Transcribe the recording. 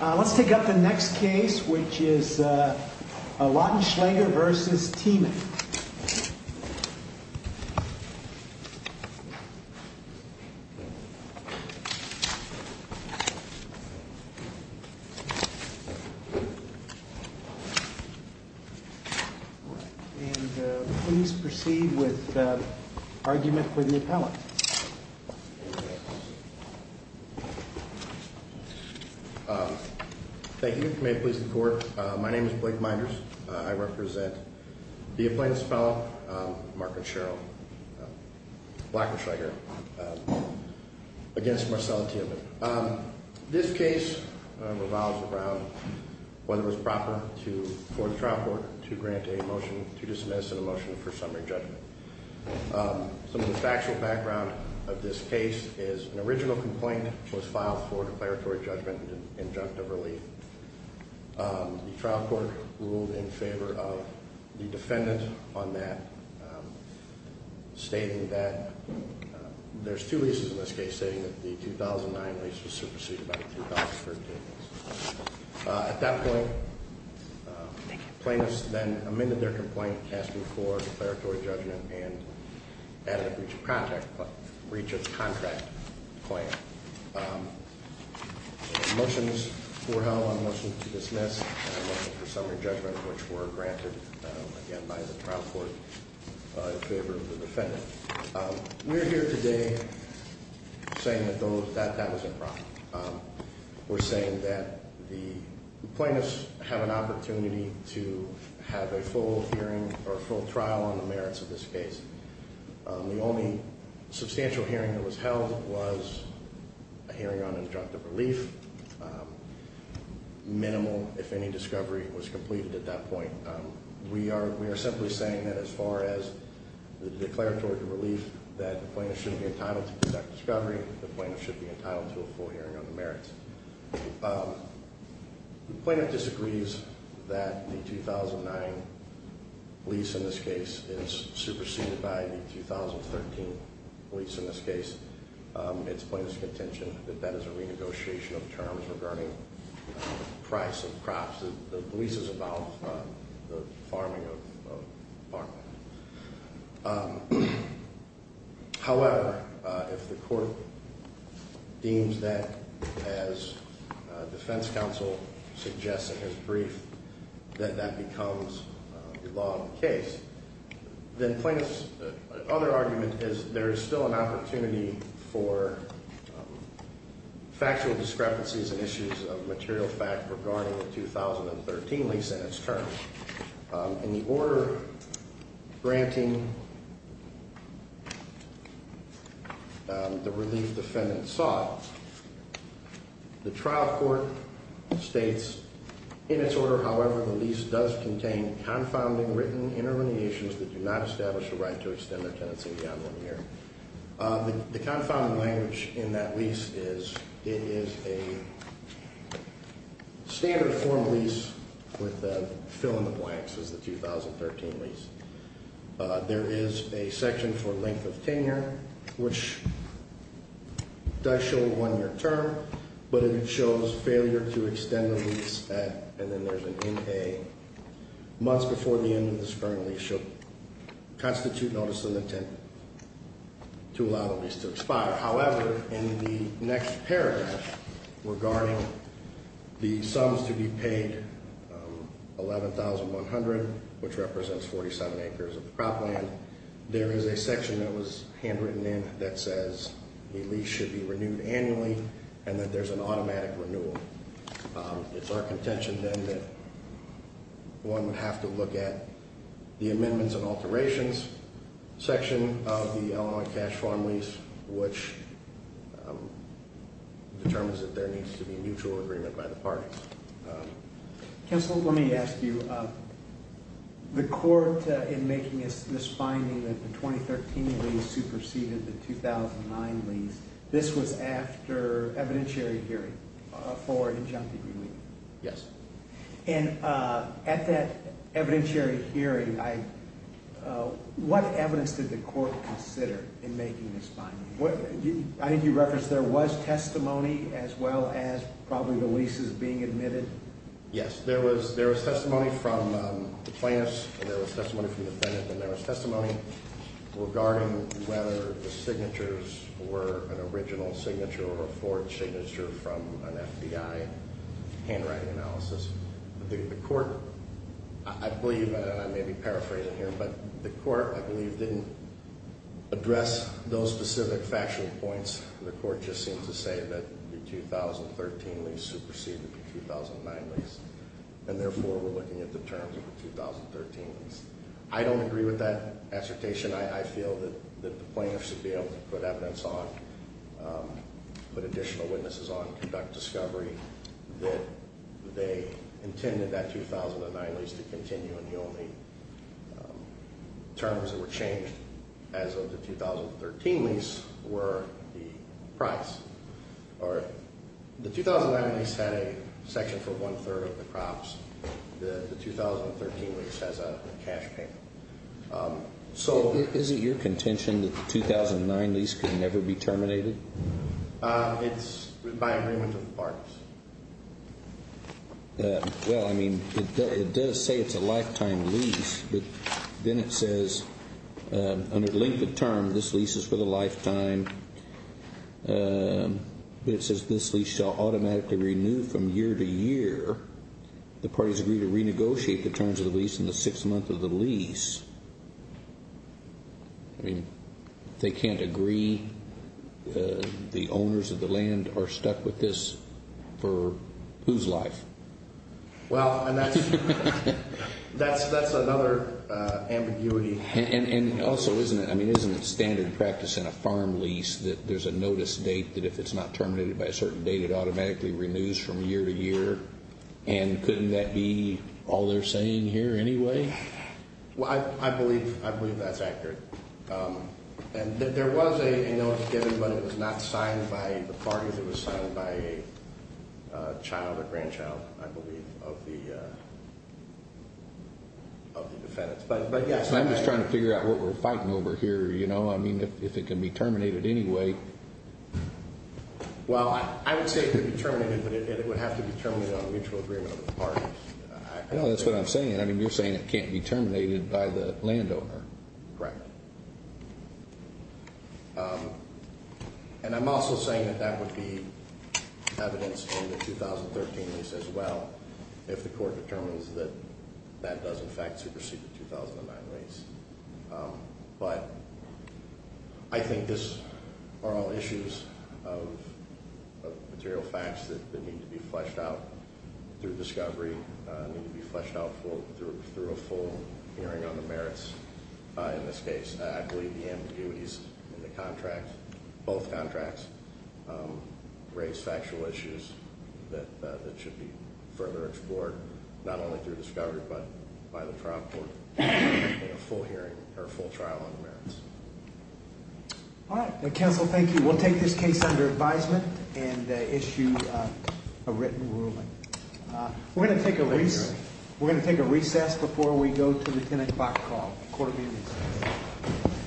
Let's take up the next case, which is Lautenschlaeger v. Tiemann Please proceed with the argument with the appellant Thank you. May it please the court. My name is Blake Minders. I represent the appellant's fellow, Mark and Cheryl Blackenschlaeger, against Marcella Tiemann This case revolves around whether it was proper for the trial court to grant a motion to dismiss and a motion for summary judgment Some of the factual background of this case is an original complaint was filed for declaratory judgment and injunctive relief The trial court ruled in favor of the defendant on that, stating that there's two leases in this case, stating that the 2009 lease was superseded by the 2013 lease At that point, plaintiffs then amended their complaint asking for declaratory judgment and added a breach of contract claim Motions were held on motions to dismiss and a motion for summary judgment, which were granted again by the trial court in favor of the defendant We're here today saying that that was improper We're saying that the plaintiffs have an opportunity to have a full hearing or full trial on the merits of this case The only substantial hearing that was held was a hearing on injunctive relief, minimal if any discovery was completed at that point We are simply saying that as far as the declaratory relief, that the plaintiff should be entitled to exact discovery, the plaintiff should be entitled to a full hearing on the merits The plaintiff disagrees that the 2009 lease in this case is superseded by the 2013 lease in this case It's plaintiff's contention that that is a renegotiation of terms regarding price of crops, that the lease is about the farming of farmland However, if the court deems that as defense counsel suggests in his brief, that that becomes the law of the case Then plaintiff's other argument is there is still an opportunity for factual discrepancies and issues of material fact regarding the 2013 lease and its terms In the order granting, the relief defendant sought, the trial court states, in its order, however, the lease does contain confounding written intermediations that do not establish the right to extend their tenancy beyond one year The confounding language in that lease is it is a standard form lease with a fill in the blanks as the 2013 lease There is a section for length of tenure, which does show one year term, but it shows failure to extend the lease at, and then there's an in-pay Months before the end of this current lease should constitute notice of intent to allow the lease to expire However, in the next paragraph, regarding the sums to be paid, 11,100, which represents 47 acres of cropland There is a section that was handwritten in that says the lease should be renewed annually and that there's an automatic renewal It's our contention then that one would have to look at the amendments and alterations section of the Illinois cash farm lease, which determines that there needs to be a mutual agreement by the parties Counsel, let me ask you, the court, in making this finding that the 2013 lease superseded the 2009 lease, this was after evidentiary hearing for injunctive relief? Yes And at that evidentiary hearing, what evidence did the court consider in making this finding? I think you referenced there was testimony as well as probably the leases being admitted Yes, there was testimony from plaintiffs, there was testimony from defendants, and there was testimony regarding whether the signatures were an original signature or a forged signature from an FBI handwriting analysis The court, I believe, and I may be paraphrasing here, but the court, I believe, didn't address those specific factual points The court just seemed to say that the 2013 lease superseded the 2009 lease, and therefore we're looking at the terms of the 2013 lease The court intended that 2009 lease to continue and the only terms that were changed as of the 2013 lease were the price. The 2009 lease had a section for one-third of the crops, the 2013 lease has a cash payment So is it your contention that the 2009 lease could never be terminated? It's by agreement of the parties Well, I mean, it does say it's a lifetime lease, but then it says, under the length of term, this lease is for the lifetime But it says this lease shall automatically renew from year to year The parties agree to renegotiate the terms of the lease in the sixth month of the lease I mean, they can't agree? The owners of the land are stuck with this for whose life? Well, and that's another ambiguity And also, isn't it standard practice in a farm lease that there's a notice date that if it's not terminated by a certain date, it automatically renews from year to year? And couldn't that be all they're saying here anyway? Well, I believe that's accurate And there was a notice given, but it was not signed by the parties, it was signed by a child or grandchild, I believe, of the defendants I'm just trying to figure out what we're fighting over here, you know? I mean, if it can be terminated anyway Well, I would say it could be terminated, but it would have to be terminated on a mutual agreement of the parties No, that's what I'm saying. I mean, you're saying it can't be terminated by the landowner Correct And I'm also saying that that would be evidence in the 2013 lease as well, if the court determines that that does in fact supersede the 2009 lease But I think these are all issues of material facts that need to be fleshed out through discovery, need to be fleshed out through a full hearing on the merits In this case, I believe the ambiguities in the contract, both contracts, raise factual issues that should be further explored Not only through discovery, but by the trial court in a full hearing or a full trial on the merits All right. Counsel, thank you. We'll take this case under advisement and issue a written ruling We're going to take a recess before we go to the 10 o'clock call. Court admitted